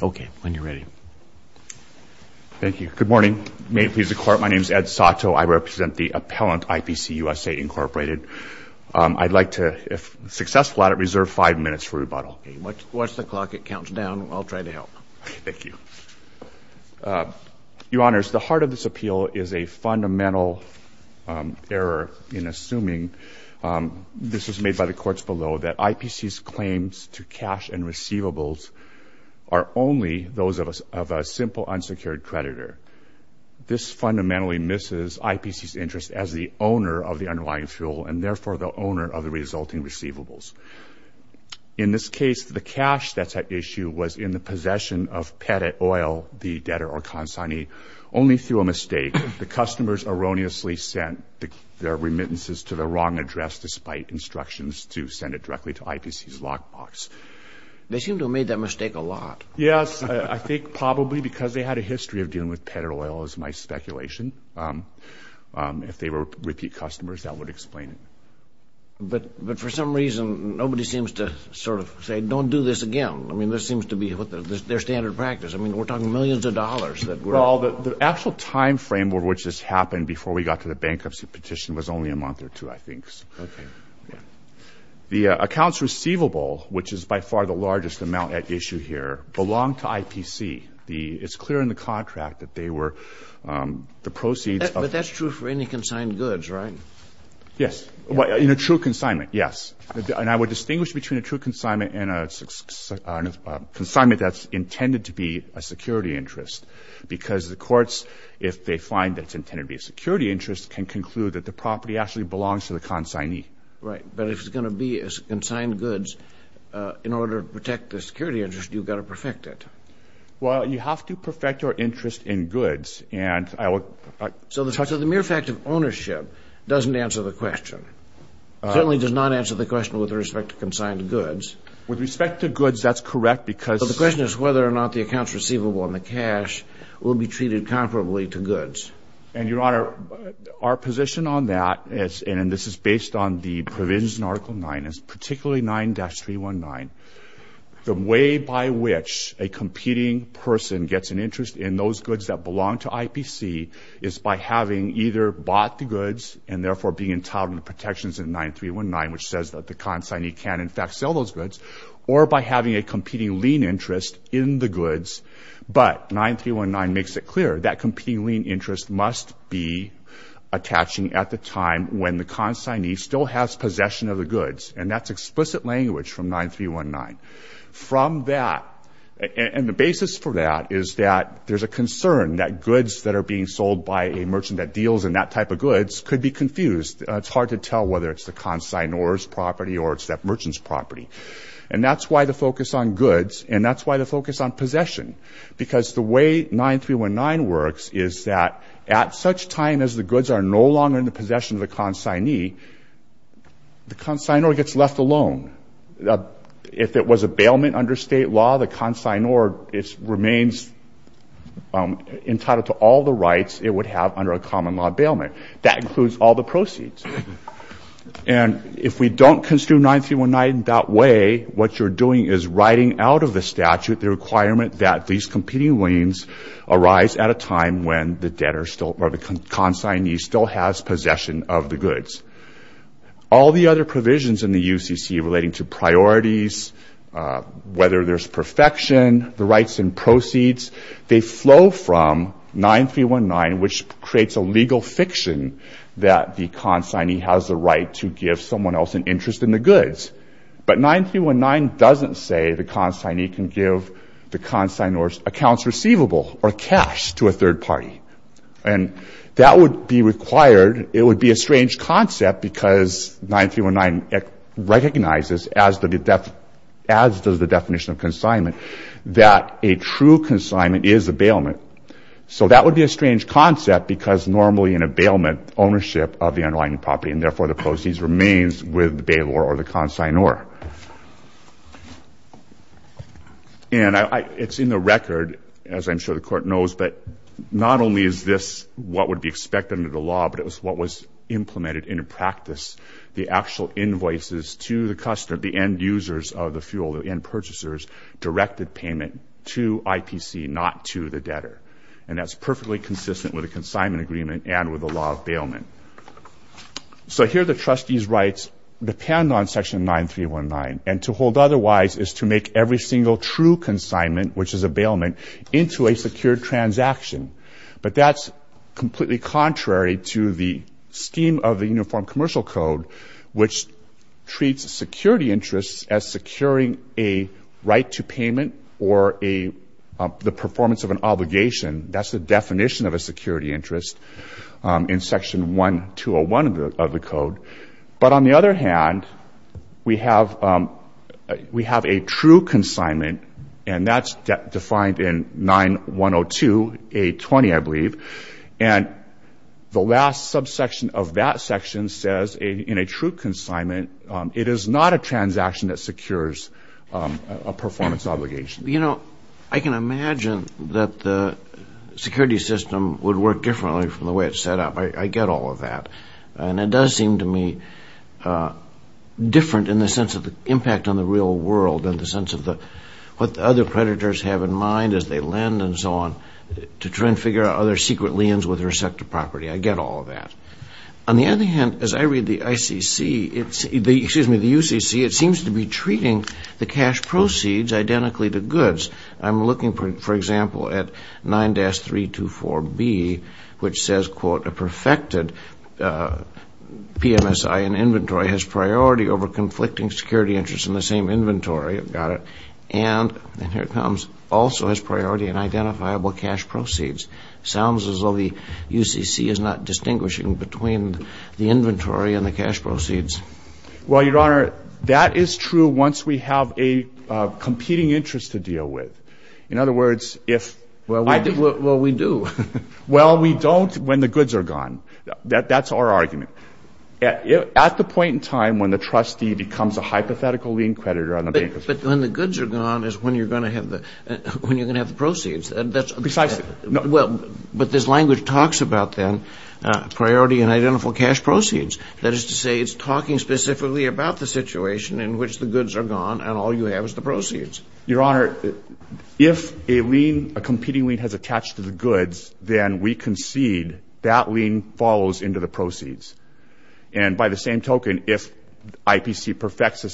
OK, when you're ready. Thank you. Good morning. May it please the Court, my name's Ed Sato. I represent the appellant IPC USA, Inc. I'd like to, if successful at it, reserve five minutes for rebuttal. Watch the clock, it counts down. I'll try to help. Thank you. Your Honors, the heart of this appeal is a fundamental error in assuming, this is made by the courts below, that IPC's claims to cash and receivables are only those of a simple unsecured creditor. This fundamentally misses IPC's interest as the owner of the underlying fuel, and therefore the owner of the resulting receivables. In this case, the cash that's at issue was in the possession of Petit Oil, the debtor or consignee, only through a mistake. The customers erroneously sent their remittances to the wrong address despite instructions to send it directly to IPC's lockbox. They seem to have made that mistake a lot. Yes, I think probably because they had a history of dealing with Petit Oil, is my speculation. If they were repeat customers, that would explain it. But for some reason, nobody seems to sort of say, don't do this again. I mean, this seems to be their standard practice. I mean, we're talking millions of dollars that we're all. The actual time frame over which this happened before we got to the bankruptcy petition was only a month or two, I think. OK. The accounts receivable, which is by far the largest amount at issue here, belong to IPC. It's clear in the contract that they were the proceeds of. But that's true for any consigned goods, right? Yes. In a true consignment, yes. And I would distinguish between a true consignment that's intended to be a security interest. Because the courts, if they find that it's intended to be a security interest, can conclude that the property actually belongs to the consignee. Right. But if it's going to be consigned goods, in order to protect the security interest, you've got to perfect it. Well, you have to perfect your interest in goods. And I would. So the mere fact of ownership doesn't answer the question. It certainly does not answer the question with respect to consigned goods. With respect to goods, that's correct, because. But the question is whether or not the accounts receivable and the cash will be treated comparably to goods. And Your Honor, our position on that, and this is based on the provisions in Article 9, is particularly 9-319, the way by which a competing person gets an interest in those goods that belong to IPC is by having either bought the goods and therefore being entitled to protections in 9-319, which says that the consignee can, in fact, sell those goods, or by having a competing lien interest in the goods. But 9-319 makes it clear that competing lien interest must be attaching at the time when the consignee still has possession of the goods. And that's explicit language from 9-319. From that, and the basis for that is that there's a concern that goods that are being sold by a merchant that deals in that type of goods could be confused. It's hard to tell whether it's the consignor's property or it's that merchant's property. And that's why the focus on goods, and that's why the focus on possession, because the way 9-319 works is that at such time as the goods are no longer in the possession of the consignee, the consignor gets left alone. If it was a bailment under state law, the consignor remains entitled to all the rights it would have under a common law bailment. That includes all the proceeds. And if we don't construe 9-319 that way, what you're doing is writing out of the statute the requirement that these competing liens arise at a time when the debtor still, or the consignee still has possession of the goods. All the other provisions in the UCC relating to priorities, whether there's perfection, the rights and proceeds, they flow from 9-319, which creates a legal fiction that the consignee has the right to give someone else an interest in the goods. But 9-319 doesn't say the consignee can give the consignor's accounts receivable, or cash, to a third party. And that would be required. It would be a strange concept, because 9-319 recognizes, as does the definition of consignment, that a true consignment is a bailment. So that would be a strange concept, of the underlying property, and therefore the proceeds remains with the bailor or the consignor. And it's in the record, as I'm sure the court knows, but not only is this what would be expected under the law, but it was what was implemented into practice. The actual invoices to the customer, the end users of the fuel, the end purchasers, directed payment to IPC, not to the debtor. And that's perfectly consistent with a consignment agreement and with the law of bailment. So here, the trustee's rights depend on section 9-319. And to hold otherwise is to make every single true consignment, which is a bailment, into a secured transaction. But that's completely contrary to the scheme of the Uniform Commercial Code, which treats security interests as securing a right to payment, or the performance of an obligation. That's the definition of a security interest in section 1-201 of the code. But on the other hand, we have a true consignment, and that's defined in 9-102, 8-20, I believe. And the last subsection of that section says, in a true consignment, it is not a transaction that secures a performance obligation. You know, I can imagine that the security system would work differently from the way it's set up. I get all of that. And it does seem to me different in the sense of the impact on the real world, in the sense of what the other creditors have in mind as they lend and so on, to try and figure out other secret liens with their sector property. I get all of that. On the other hand, as I read the ICC, excuse me, the UCC, it seems to be treating the cash proceeds identically to goods. I'm looking, for example, at 9-324B, which says, quote, a perfected PMSI in inventory has priority over conflicting security interests in the same inventory. Got it. And here it comes. Also has priority in identifiable cash proceeds. Sounds as though the UCC is not distinguishing between the inventory and the cash proceeds. Well, Your Honor, that is true once we have a competing interest to deal with. In other words, if I do. Well, we do. Well, we don't when the goods are gone. That's our argument. At the point in time when the trustee becomes a hypothetical lien creditor on the bank account. But when the goods are gone is when you're going to have the proceeds. Precisely. But this language talks about, then, priority in identifiable cash proceeds. about the situation in which the goods are gone and all you have is the proceeds. Your Honor, if a competing lien has attached to the goods, then we concede that lien follows into the proceeds. And by the same token, if IPC perfects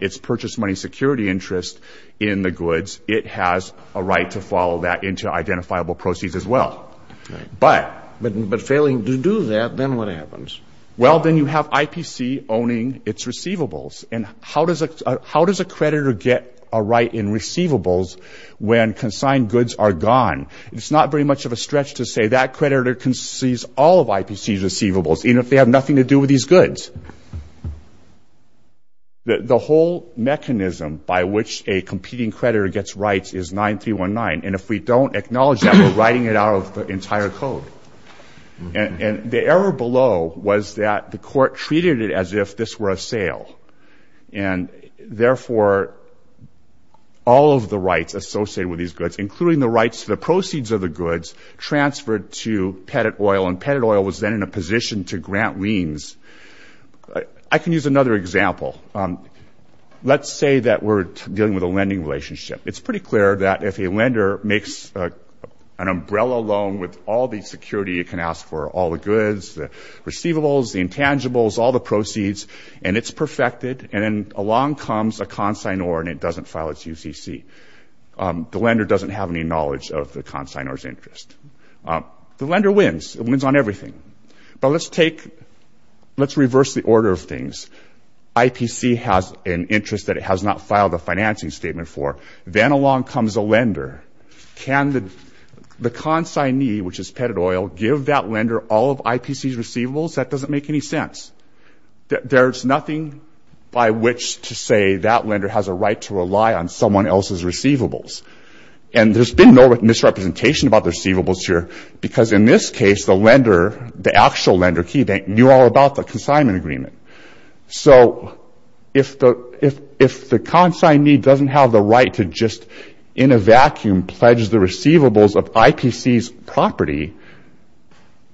its purchase money security interest in the goods, it has a right to follow that into identifiable proceeds as well. But failing to do that, then what happens? Well, then you have IPC owning its receivables. And how does a creditor get a right in receivables when consigned goods are gone? It's not very much of a stretch to say that creditor concedes all of IPC's receivables, even if they have nothing to do with these goods. The whole mechanism by which a competing creditor gets rights is 9319. And if we don't acknowledge that, we're writing it out of the entire code. And the error below was that the court treated it as if this were a sale. And therefore, all of the rights associated with these goods, including the rights to the proceeds of the goods, transferred to Pettit Oil. And Pettit Oil was then in a position to grant liens. I can use another example. Let's say that we're dealing with a lending relationship. It's pretty clear that if a lender makes an umbrella loan with all the security it can ask for, all the goods, the receivables, the intangibles, all the proceeds, and it's perfected, and then along comes a consignor and it doesn't file its UCC. The lender doesn't have any knowledge of the consignor's interest. The lender wins. It wins on everything. But let's take, let's reverse the order of things. IPC has an interest that it has not filed a financing statement for. Then along comes a lender. Can the consignee, which is Pettit Oil, give that lender all of IPC's receivables? That doesn't make any sense. There's nothing by which to say that lender has a right to rely on someone else's receivables. And there's been no misrepresentation about the receivables here. Because in this case, the lender, the actual lender, he knew all about the consignment agreement. So if the consignee doesn't have the right to just, in a vacuum, pledge the receivables of IPC's property,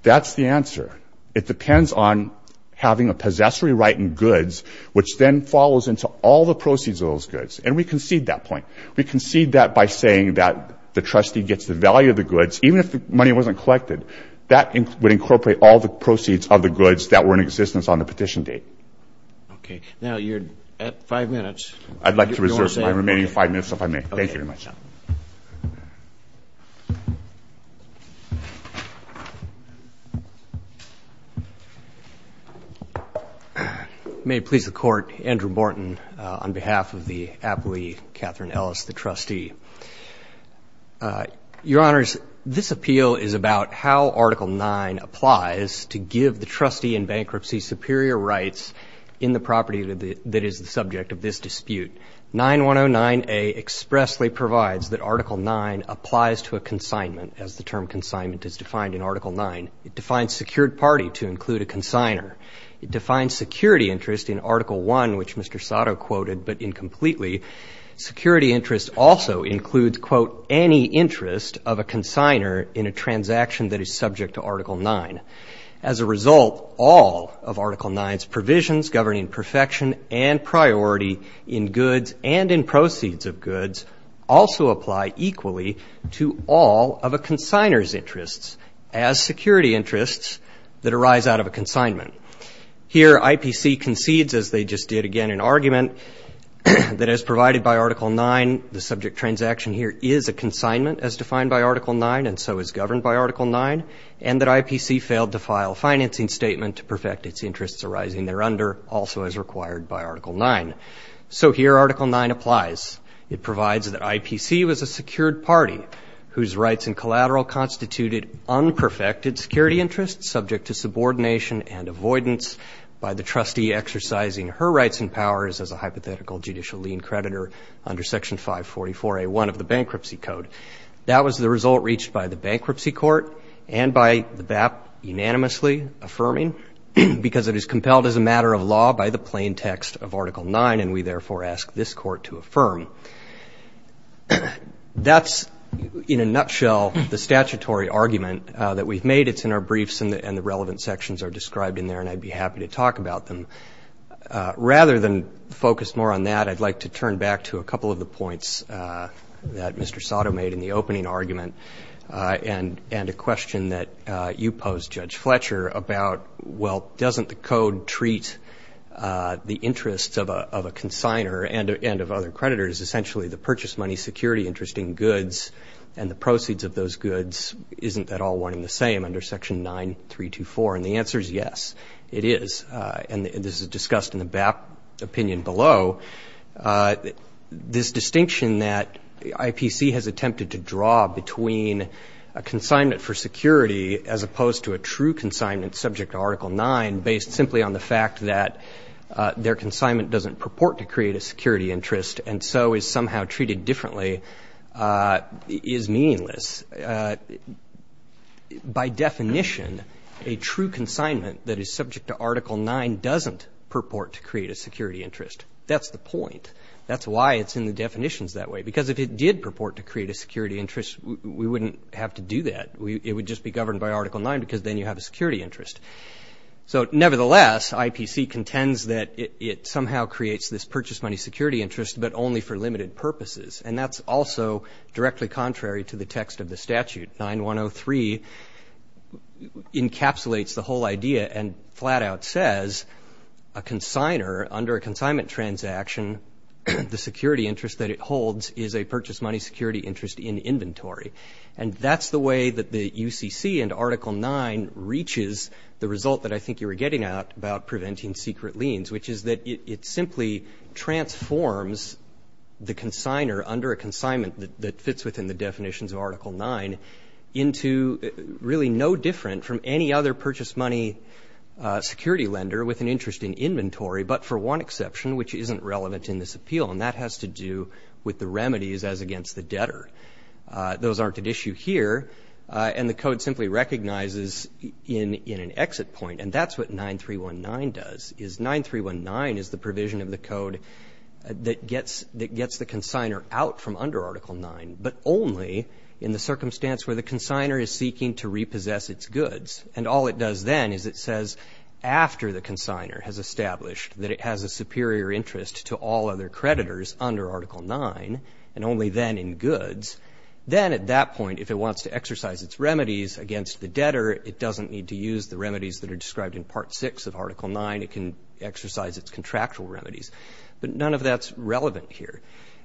that's the answer. It depends on having a possessory right in goods, which then follows into all the proceeds of those goods. And we concede that point. We concede that by saying that the trustee gets the value of the goods, even if the money wasn't collected. That would incorporate all the proceeds of the goods that were in existence on the petition date. OK. Now you're at five minutes. I'd like to reserve my remaining five minutes, if I may. Thank you very much. May it please the court, Andrew Morton, on behalf of the appellee, Catherine Ellis, the trustee. Your Honors, this appeal is about how Article 9 applies to give the trustee in bankruptcy superior rights in the property that is the subject of this dispute. 9109A expressly provides that Article 9 applies to a consignment, as the term consignment is defined in Article 9. It defines secured property, which is the right of the party to include a consigner. It defines security interest in Article 1, which Mr. Sato quoted, but incompletely. Security interest also includes, quote, any interest of a consigner in a transaction that is subject to Article 9. As a result, all of Article 9's provisions governing perfection and priority in goods and in proceeds of goods also apply equally to all of a consignor's interests. As security interests that arise out of a consignment. Here, IPC concedes, as they just did again in argument, that as provided by Article 9, the subject transaction here is a consignment, as defined by Article 9, and so is governed by Article 9, and that IPC failed to file a financing statement to perfect its interests arising thereunder, also as required by Article 9. So here, Article 9 applies. It provides that IPC was a secured party whose rights and collateral constituted unperfected security interests subject to subordination and avoidance by the trustee exercising her rights and powers as a hypothetical judicial lien creditor under Section 544A1 of the Bankruptcy Code. That was the result reached by the Bankruptcy Court and by the BAP unanimously affirming, because it is compelled as a matter of law by the plain text of Article 9, and we therefore ask this court to affirm. That's, in a nutshell, the statutory argument that we've made. It's in our briefs, and the relevant sections are described in there, and I'd be happy to talk about them. Rather than focus more on that, I'd like to turn back to a couple of the points that Mr. Sato made in the opening argument, and a question that you posed, Judge Fletcher, about, well, and of other creditors as a matter of law? Is essentially the purchase money security interest in goods, and the proceeds of those goods, isn't that all one and the same under Section 9324? And the answer is yes, it is. And this is discussed in the BAP opinion below. This distinction that IPC has attempted to draw between a consignment for security, as opposed to a true consignment subject to Article 9, based simply on the fact that their consignment doesn't purport to create a security interest, and so is somehow treated differently, is meaningless. By definition, a true consignment that is subject to Article 9 doesn't purport to create a security interest. That's the point. That's why it's in the definitions that way. Because if it did purport to create a security interest, we wouldn't have to do that. It would just be governed by Article 9, because then you have a security interest. So nevertheless, IPC contends that it somehow creates this purchase money security interest, but only for limited purposes. And that's also directly contrary to the text of the statute. 9103 encapsulates the whole idea and flat out says a consigner, under a consignment transaction, the security interest that it holds is a purchase money security interest in inventory. And that's the way that the UCC and Article 9 reaches the result that I think you were getting out about preventing secret liens, which is that it simply transforms the consigner under a consignment that fits within the definitions of Article 9 into really no different from any other purchase money security lender with an interest in inventory, but for one exception, which isn't relevant in this appeal. And that has to do with the remedies as against the debtor. Those aren't an issue here. And the code simply recognizes in an exit point. And that's what 9319 does, is 9319 is the provision of the code that gets the consigner out from under Article 9, but only in the circumstance where the consigner is seeking to repossess its goods. And all it does then is it says, after the consigner has established that it has a superior interest to all other creditors under Article 9, and only then in goods, then at that point, if it wants to exercise its remedies against the debtor, it doesn't need to use the remedies that are described in Part 6 of Article 9. It can exercise its contractual remedies. But none of that's relevant here.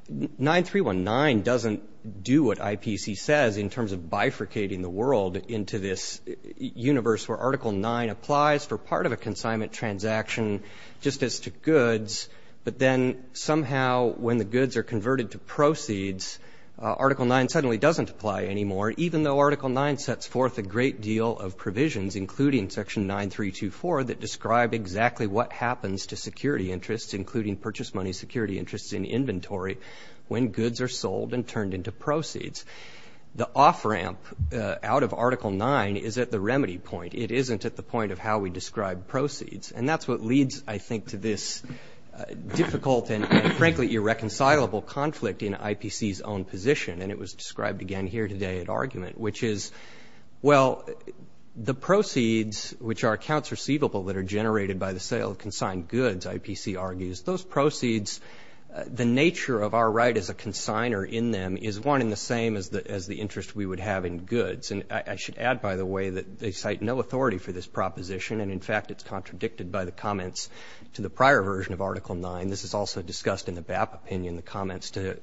9319 doesn't do what IPC says in terms of bifurcating the world into this universe where Article 9 applies for part of a consignment transaction just as to goods. But then somehow, when the goods are converted to proceeds, Article 9 suddenly doesn't apply anymore, even though Article 9 sets forth a great deal of provisions, including Section 9.324, that describe exactly what happens to security interests, including purchase money security interests in inventory, when goods are sold and turned into proceeds. The off-ramp out of Article 9 is at the remedy point. It isn't at the point of how we describe proceeds. And that's what leads, I think, to this difficult and frankly irreconcilable conflict in IPC's own position. And it was described again here today at argument, which is, well, the proceeds, which are accounts receivable that are generated by the sale of consigned goods, IPC argues, those proceeds, the nature of our right as a consigner in them is one and the same as the interest we would have in goods. And I should add, by the way, that they cite no authority for this proposition. And in fact, it's contradicted by the comments to the prior version of Article 9. This is also discussed in the BAP opinion, in the comments to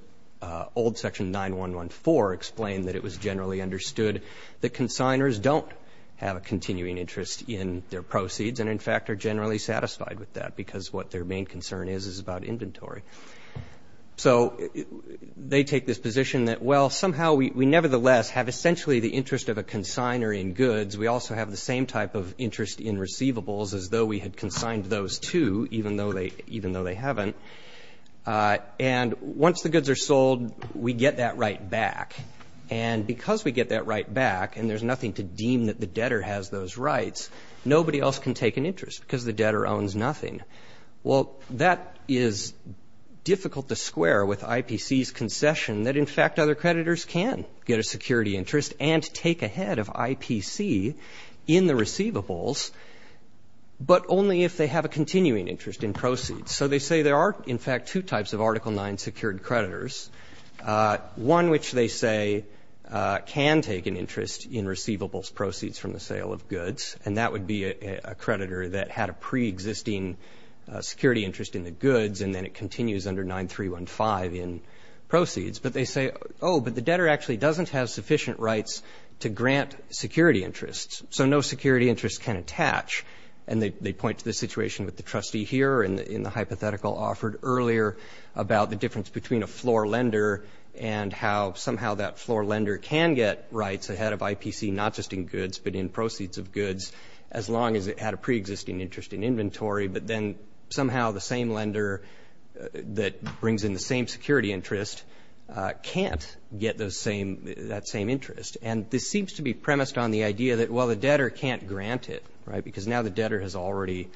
old section 9114, explained that it was generally understood that consignors don't have a continuing interest in their proceeds. And in fact, are generally satisfied with that, because what their main concern is is about inventory. So they take this position that, well, somehow we nevertheless have essentially the interest of a consigner in goods. We also have the same type of interest in receivables, as though we had consigned those too, even though they haven't. And once the goods are sold, we get that right back. And because we get that right back, and there's nothing to deem that the debtor has those rights, nobody else can take an interest, because the debtor owns nothing. Well, that is difficult to square with IPC's concession that, in fact, other creditors can get a security interest and take ahead of IPC in the receivables, but only if they have a continuing interest in proceeds. So they say there are, in fact, two types of Article IX secured creditors, one which they say can take an interest in receivables proceeds from the sale of goods. And that would be a creditor that had a pre-existing security interest in the goods, and then it continues under 9315 in proceeds. But they say, oh, but the debtor actually doesn't have sufficient rights to grant security interests. So no security interest can attach. And they point to the situation with the trustee here in the hypothetical offered earlier about the difference between a floor lender and how somehow that floor lender can get rights ahead of IPC, not just in goods, but in proceeds of goods, as long as it had a pre-existing interest in inventory. But then somehow the same lender that brings in the same security interest can't get that same interest. And this seems to be premised on the idea that, well, the debtor can't grant it, because now the debtor has already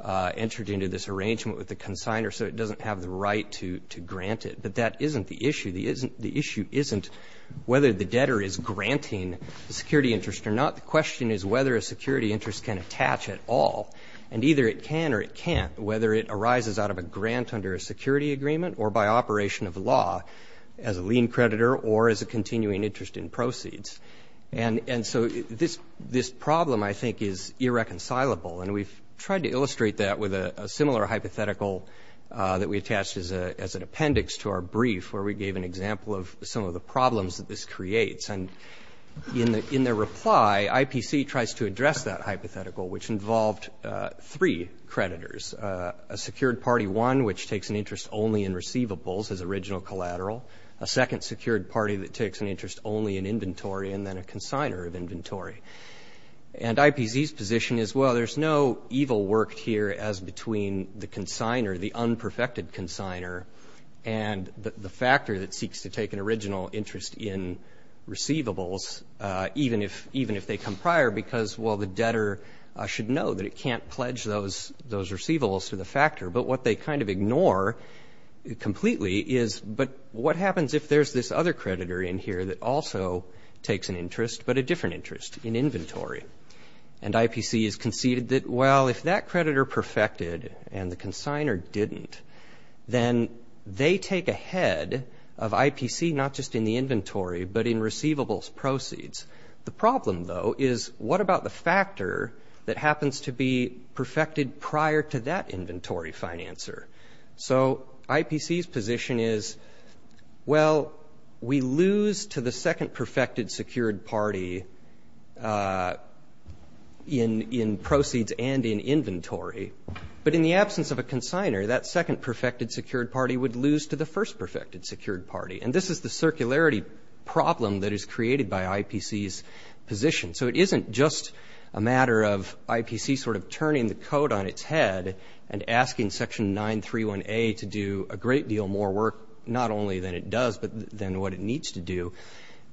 entered into this arrangement with the consignor, so it doesn't have the right to grant it. But that isn't the issue. The issue isn't whether the debtor is granting the security interest or not. The question is whether a security interest can attach at all. And either it can or it can't, whether it arises out of a grant under a security agreement or by operation of law as a lien creditor or as a continuing interest in proceeds. And so this problem, I think, is irreconcilable. And we've tried to illustrate that with a similar hypothetical that we attached as an appendix to our brief, where we gave an example of some of the problems that this creates. And in their reply, IPC tries to address that hypothetical, which involved three creditors, a secured party one, which takes an interest only in receivables as original collateral, in inventory, and then a consigner of inventory. And IPC's position is, well, there's no evil work here as between the consigner, the unperfected consigner, and the factor that seeks to take an original interest in receivables, even if they come prior. Because, well, the debtor should know that it can't pledge those receivables to the factor. But what they kind of ignore completely is, but what happens if there's this other creditor in here that also takes an interest, but a different interest? In inventory. And IPC has conceded that, well, if that creditor perfected and the consigner didn't, then they take ahead of IPC, not just in the inventory, but in receivables proceeds. The problem, though, is what about the factor that happens to be perfected prior to that inventory financer? So IPC's position is, well, we lose to the second perfected secured party in proceeds and in inventory. But in the absence of a consigner, that second perfected secured party would lose to the first perfected secured party. And this is the circularity problem that is created by IPC's position. So it isn't just a matter of IPC sort of turning the coat on its head and asking Section 931A to do a great deal more work, not only than it does, than what it needs to do.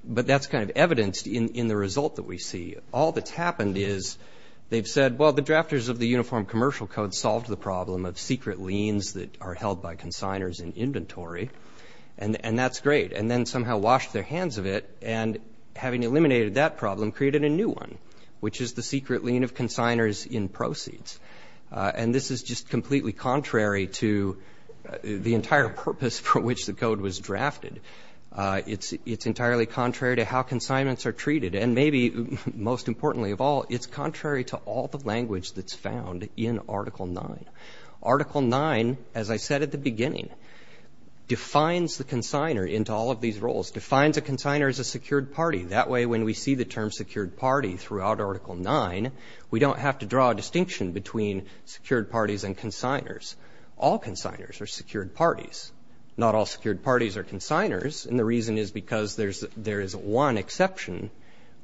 But that's kind of evidenced in the result that we see. All that's happened is they've said, well, the drafters of the Uniform Commercial Code solved the problem of secret liens that are held by consignors in inventory. And that's great. And then somehow washed their hands of it. And having eliminated that problem, created a new one, which is the secret lien of consignors in proceeds. And this is just completely contrary to the entire purpose for which the code was drafted. It's entirely contrary to how consignments are treated. And maybe most importantly of all, it's contrary to all the language that's found in Article 9. Article 9, as I said at the beginning, defines the consigner into all of these roles. Defines a consigner as a secured party. That way, when we see the term secured party throughout Article 9, we don't have to draw a distinction between secured parties and consignors. All consignors are secured parties. Not all secured parties are consignors. And the reason is because there is one exception,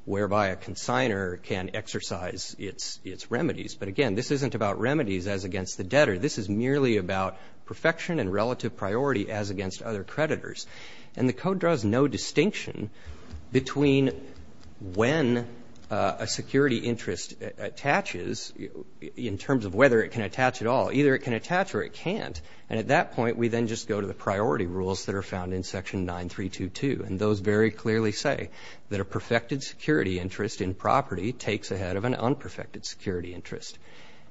whereby a consigner can exercise its remedies. But again, this isn't about remedies as against the debtor. This is merely about perfection and relative priority as against other creditors. And the code draws no distinction between when a security interest attaches, in terms of whether it can attach at all. Either it can attach or it can't. And at that point, we then just go to the priority rules that are found in Section 9.322. And those very clearly say that a perfected security interest in property takes ahead of an unperfected security interest.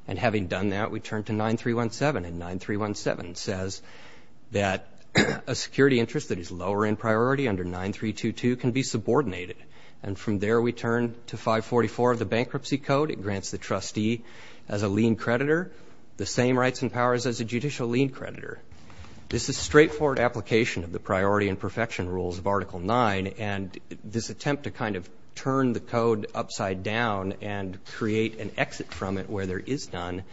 And having done that, we turn to 9.317. And 9.317 says that a security interest that is lower in priority under 9.322 can be subordinated. And from there, we turn to 544 of the Bankruptcy Code. It grants the trustee as a lien creditor the same rights and powers as a judicial lien creditor. This is straightforward application of the priority and perfection rules of Article 9. And this attempt to kind of turn the code upside down and create an exit from it where there is none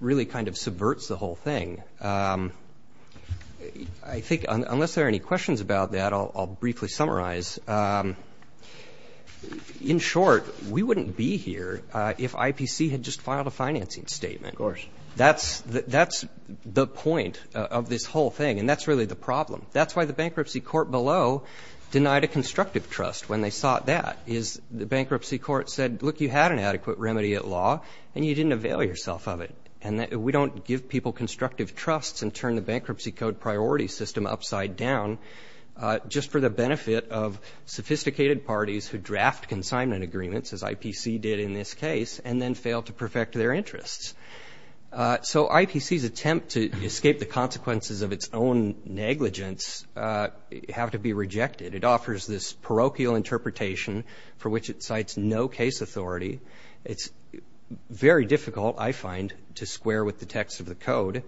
really kind of subverts the whole thing. I think, unless there are any questions about that, I'll briefly summarize. In short, we wouldn't be here if IPC had just filed a financing statement. Of course. That's the point of this whole thing. And that's really the problem. That's why the bankruptcy court below denied a constructive trust when they sought that, is the bankruptcy court said, look, you had an adequate remedy at law. And you didn't avail yourself of it. And we don't give people constructive trusts and turn the Bankruptcy Code priority system upside down just for the benefit of sophisticated parties who draft consignment agreements, as IPC did in this case, and then fail to perfect their interests. So IPC's attempt to escape the consequences of its own negligence have to be rejected. It offers this parochial interpretation for which it cites no case authority. It's very difficult, I find, to square with the text of the code.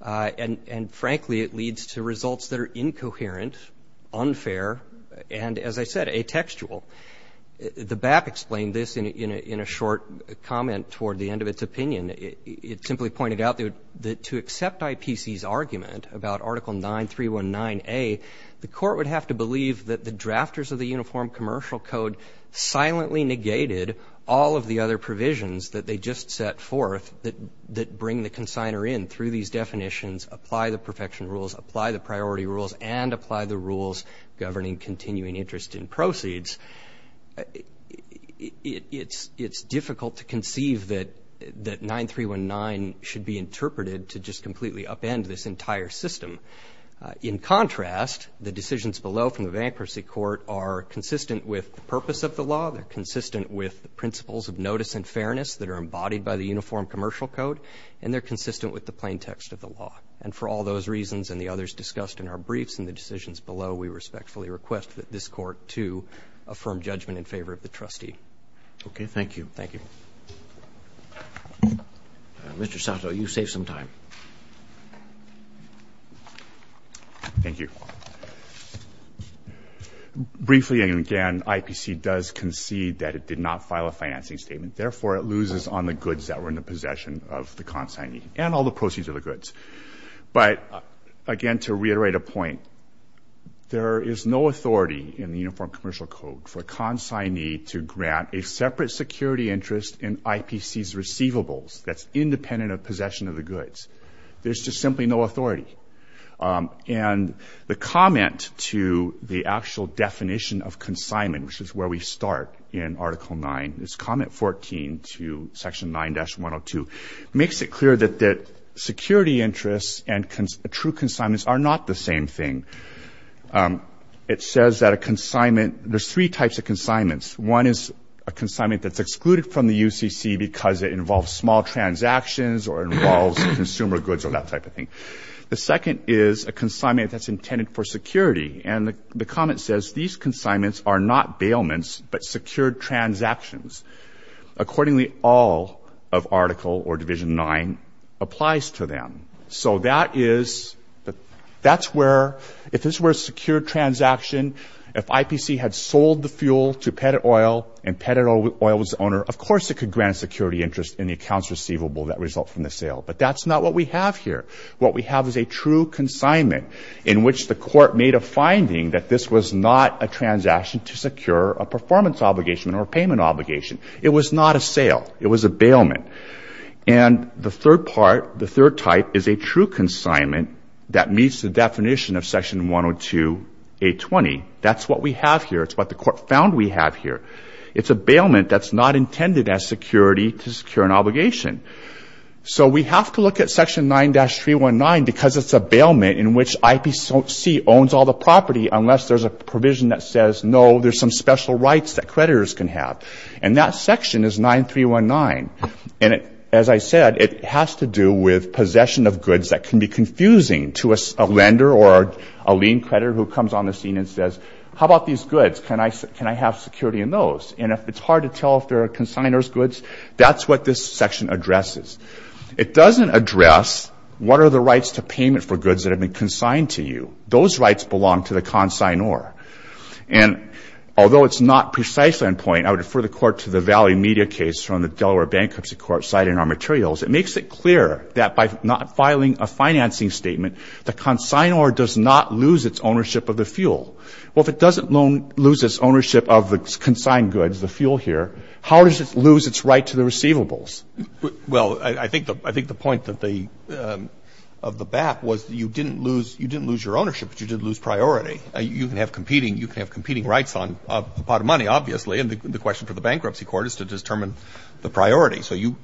And frankly, it leads to results that are incoherent, unfair, and, as I said, atextual. The BAP explained this in a short comment toward the end of its opinion. It simply pointed out that to accept IPC's argument about Article 9319A, the court would have to believe that the drafters of the Uniform Commercial Code silently negated all of the other provisions that they just set forth that bring the consigner in through these definitions, apply the perfection rules, apply the priority rules, and apply the rules governing continuing interest in proceeds, it's difficult to conceive that 9319 should be interpreted to just completely upend this entire system. In contrast, the decisions below from the bankruptcy court are consistent with the purpose of the law, they're consistent with the principles of notice and fairness that are embodied by the Uniform Commercial Code, and they're consistent with the plain text of the law. And for all those reasons and the others discussed in our briefs and the decisions below, we respectfully request that this court to affirm judgment in favor of the trustee. Okay, thank you. Thank you. Mr. Sato, you saved some time. Thank you. Briefly and again, IPC does concede that it did not file a financing statement. Therefore, it loses on the goods that were in the possession of the consignee, and all the proceeds of the goods. But again, to reiterate a point, there is no authority in the Uniform Commercial Code for consignee to grant a separate security interest in IPC's receivables that's independent of possession of the goods. There's just simply no authority. And the comment to the actual definition of consignment, which is where we start in Article 9, it's comment 14 to Section 9-102, makes it clear that security interests and true consignments are not the same thing. It says that a consignment, there's three types of consignments. One is a consignment that's excluded from the UCC because it involves small transactions or involves consumer goods or that type of thing. The second is a consignment that's intended for security. And the comment says these consignments are not bailments, but secured transactions. Accordingly, all of Article or Division 9 applies to them. So that is, that's where, if this were a secured transaction, if IPC had sold the fuel to Petit Oil and Petit Oil was the owner, of course it could grant a security interest in the accounts receivable that result from the sale. But that's not what we have here. What we have is a true consignment in which the court made a finding that this was not a transaction to secure a performance obligation or payment obligation. It was not a sale. It was a bailment. And the third part, the third type, is a true consignment that meets the definition of Section 102.820. That's what we have here. It's what the court found we have here. It's a bailment that's not intended as security to secure an obligation. So we have to look at Section 9-319 because it's a bailment in which IPC owns all the property unless there's a provision that says, no, there's some special rights that creditors can have. And that section is 9-319. And as I said, it has to do with possession of goods that can be confusing to a lender or a lien creditor who comes on the scene and says, how about these goods? Can I have security in those? And if it's hard to tell if they're consignor's goods, that's what this section addresses. It doesn't address what are the rights to payment for goods that have been consigned to you. Those rights belong to the consignor. And although it's not precisely on point, I would refer the court to the Valley Media case from the Delaware Bankruptcy Court citing our materials. It makes it clear that by not filing a financing statement, the consignor does not lose its ownership of the fuel. Well, if it doesn't lose its ownership of the consigned goods, the fuel here, how does it lose its right to the receivables? Well, I think the point of the BAP was that you didn't lose your ownership, but you did lose priority. You can have competing rights on a pot of money, obviously. And the question for the bankruptcy court is to determine the priority. So you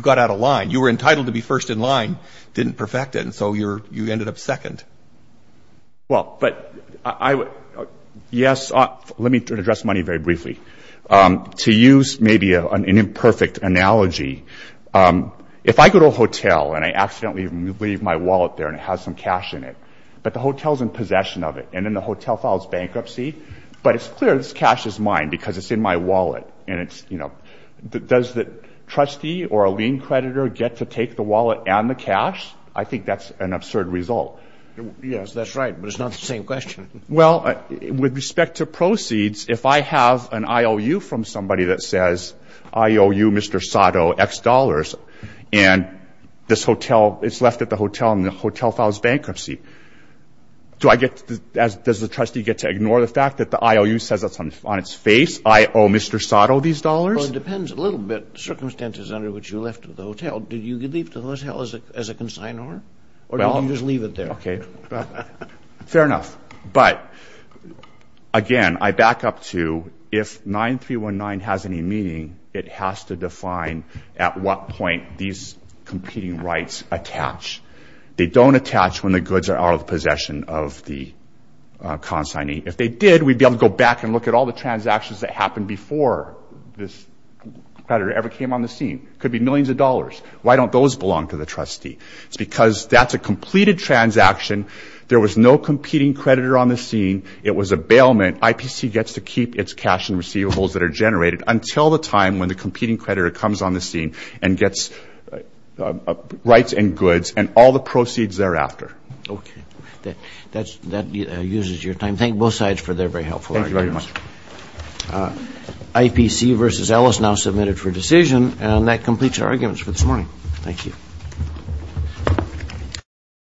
got out of line. You were entitled to be first in line. Didn't perfect it, and so you ended up second. Well, but yes, let me address money very briefly. To use maybe an imperfect analogy, if I go to a hotel and I accidentally leave my wallet there and it has some cash in it, but the hotel's in possession of it and then the hotel files bankruptcy, but it's clear this cash is mine because it's in my wallet. And does the trustee or a lien creditor get to take the wallet and the cash? I think that's an absurd result. Yes, that's right, but it's not the same question. Well, with respect to proceeds, if I have an IOU from somebody that says IOU, Mr. Sato, X dollars, and it's left at the hotel and the hotel files bankruptcy, do does the trustee get to ignore the fact that the IOU says that's on its face? I owe Mr. Sato these dollars? Well, it depends a little bit, the circumstances under which you left the hotel. Did you leave the hotel as a consignor? Or did you just leave it there? Fair enough, but again, I back up to if 9319 has any meaning, it has to define at what point these competing rights attach. They don't attach when the goods are out of possession of the consignee. If they did, we'd be able to go back and look at all the transactions that happened before this creditor ever came on the scene. Could be millions of dollars. Why don't those belong to the trustee? It's because that's a completed transaction. There was no competing creditor on the scene. It was a bailment. IPC gets to keep its cash and receivables that are generated until the time when the competing creditor comes on the scene and gets rights and goods and all the proceeds thereafter. OK. That uses your time. Thank both sides for their very helpful arguments. Thank you very much. IPC versus Ellis now submitted for decision, and that completes our arguments for this morning. Thank you.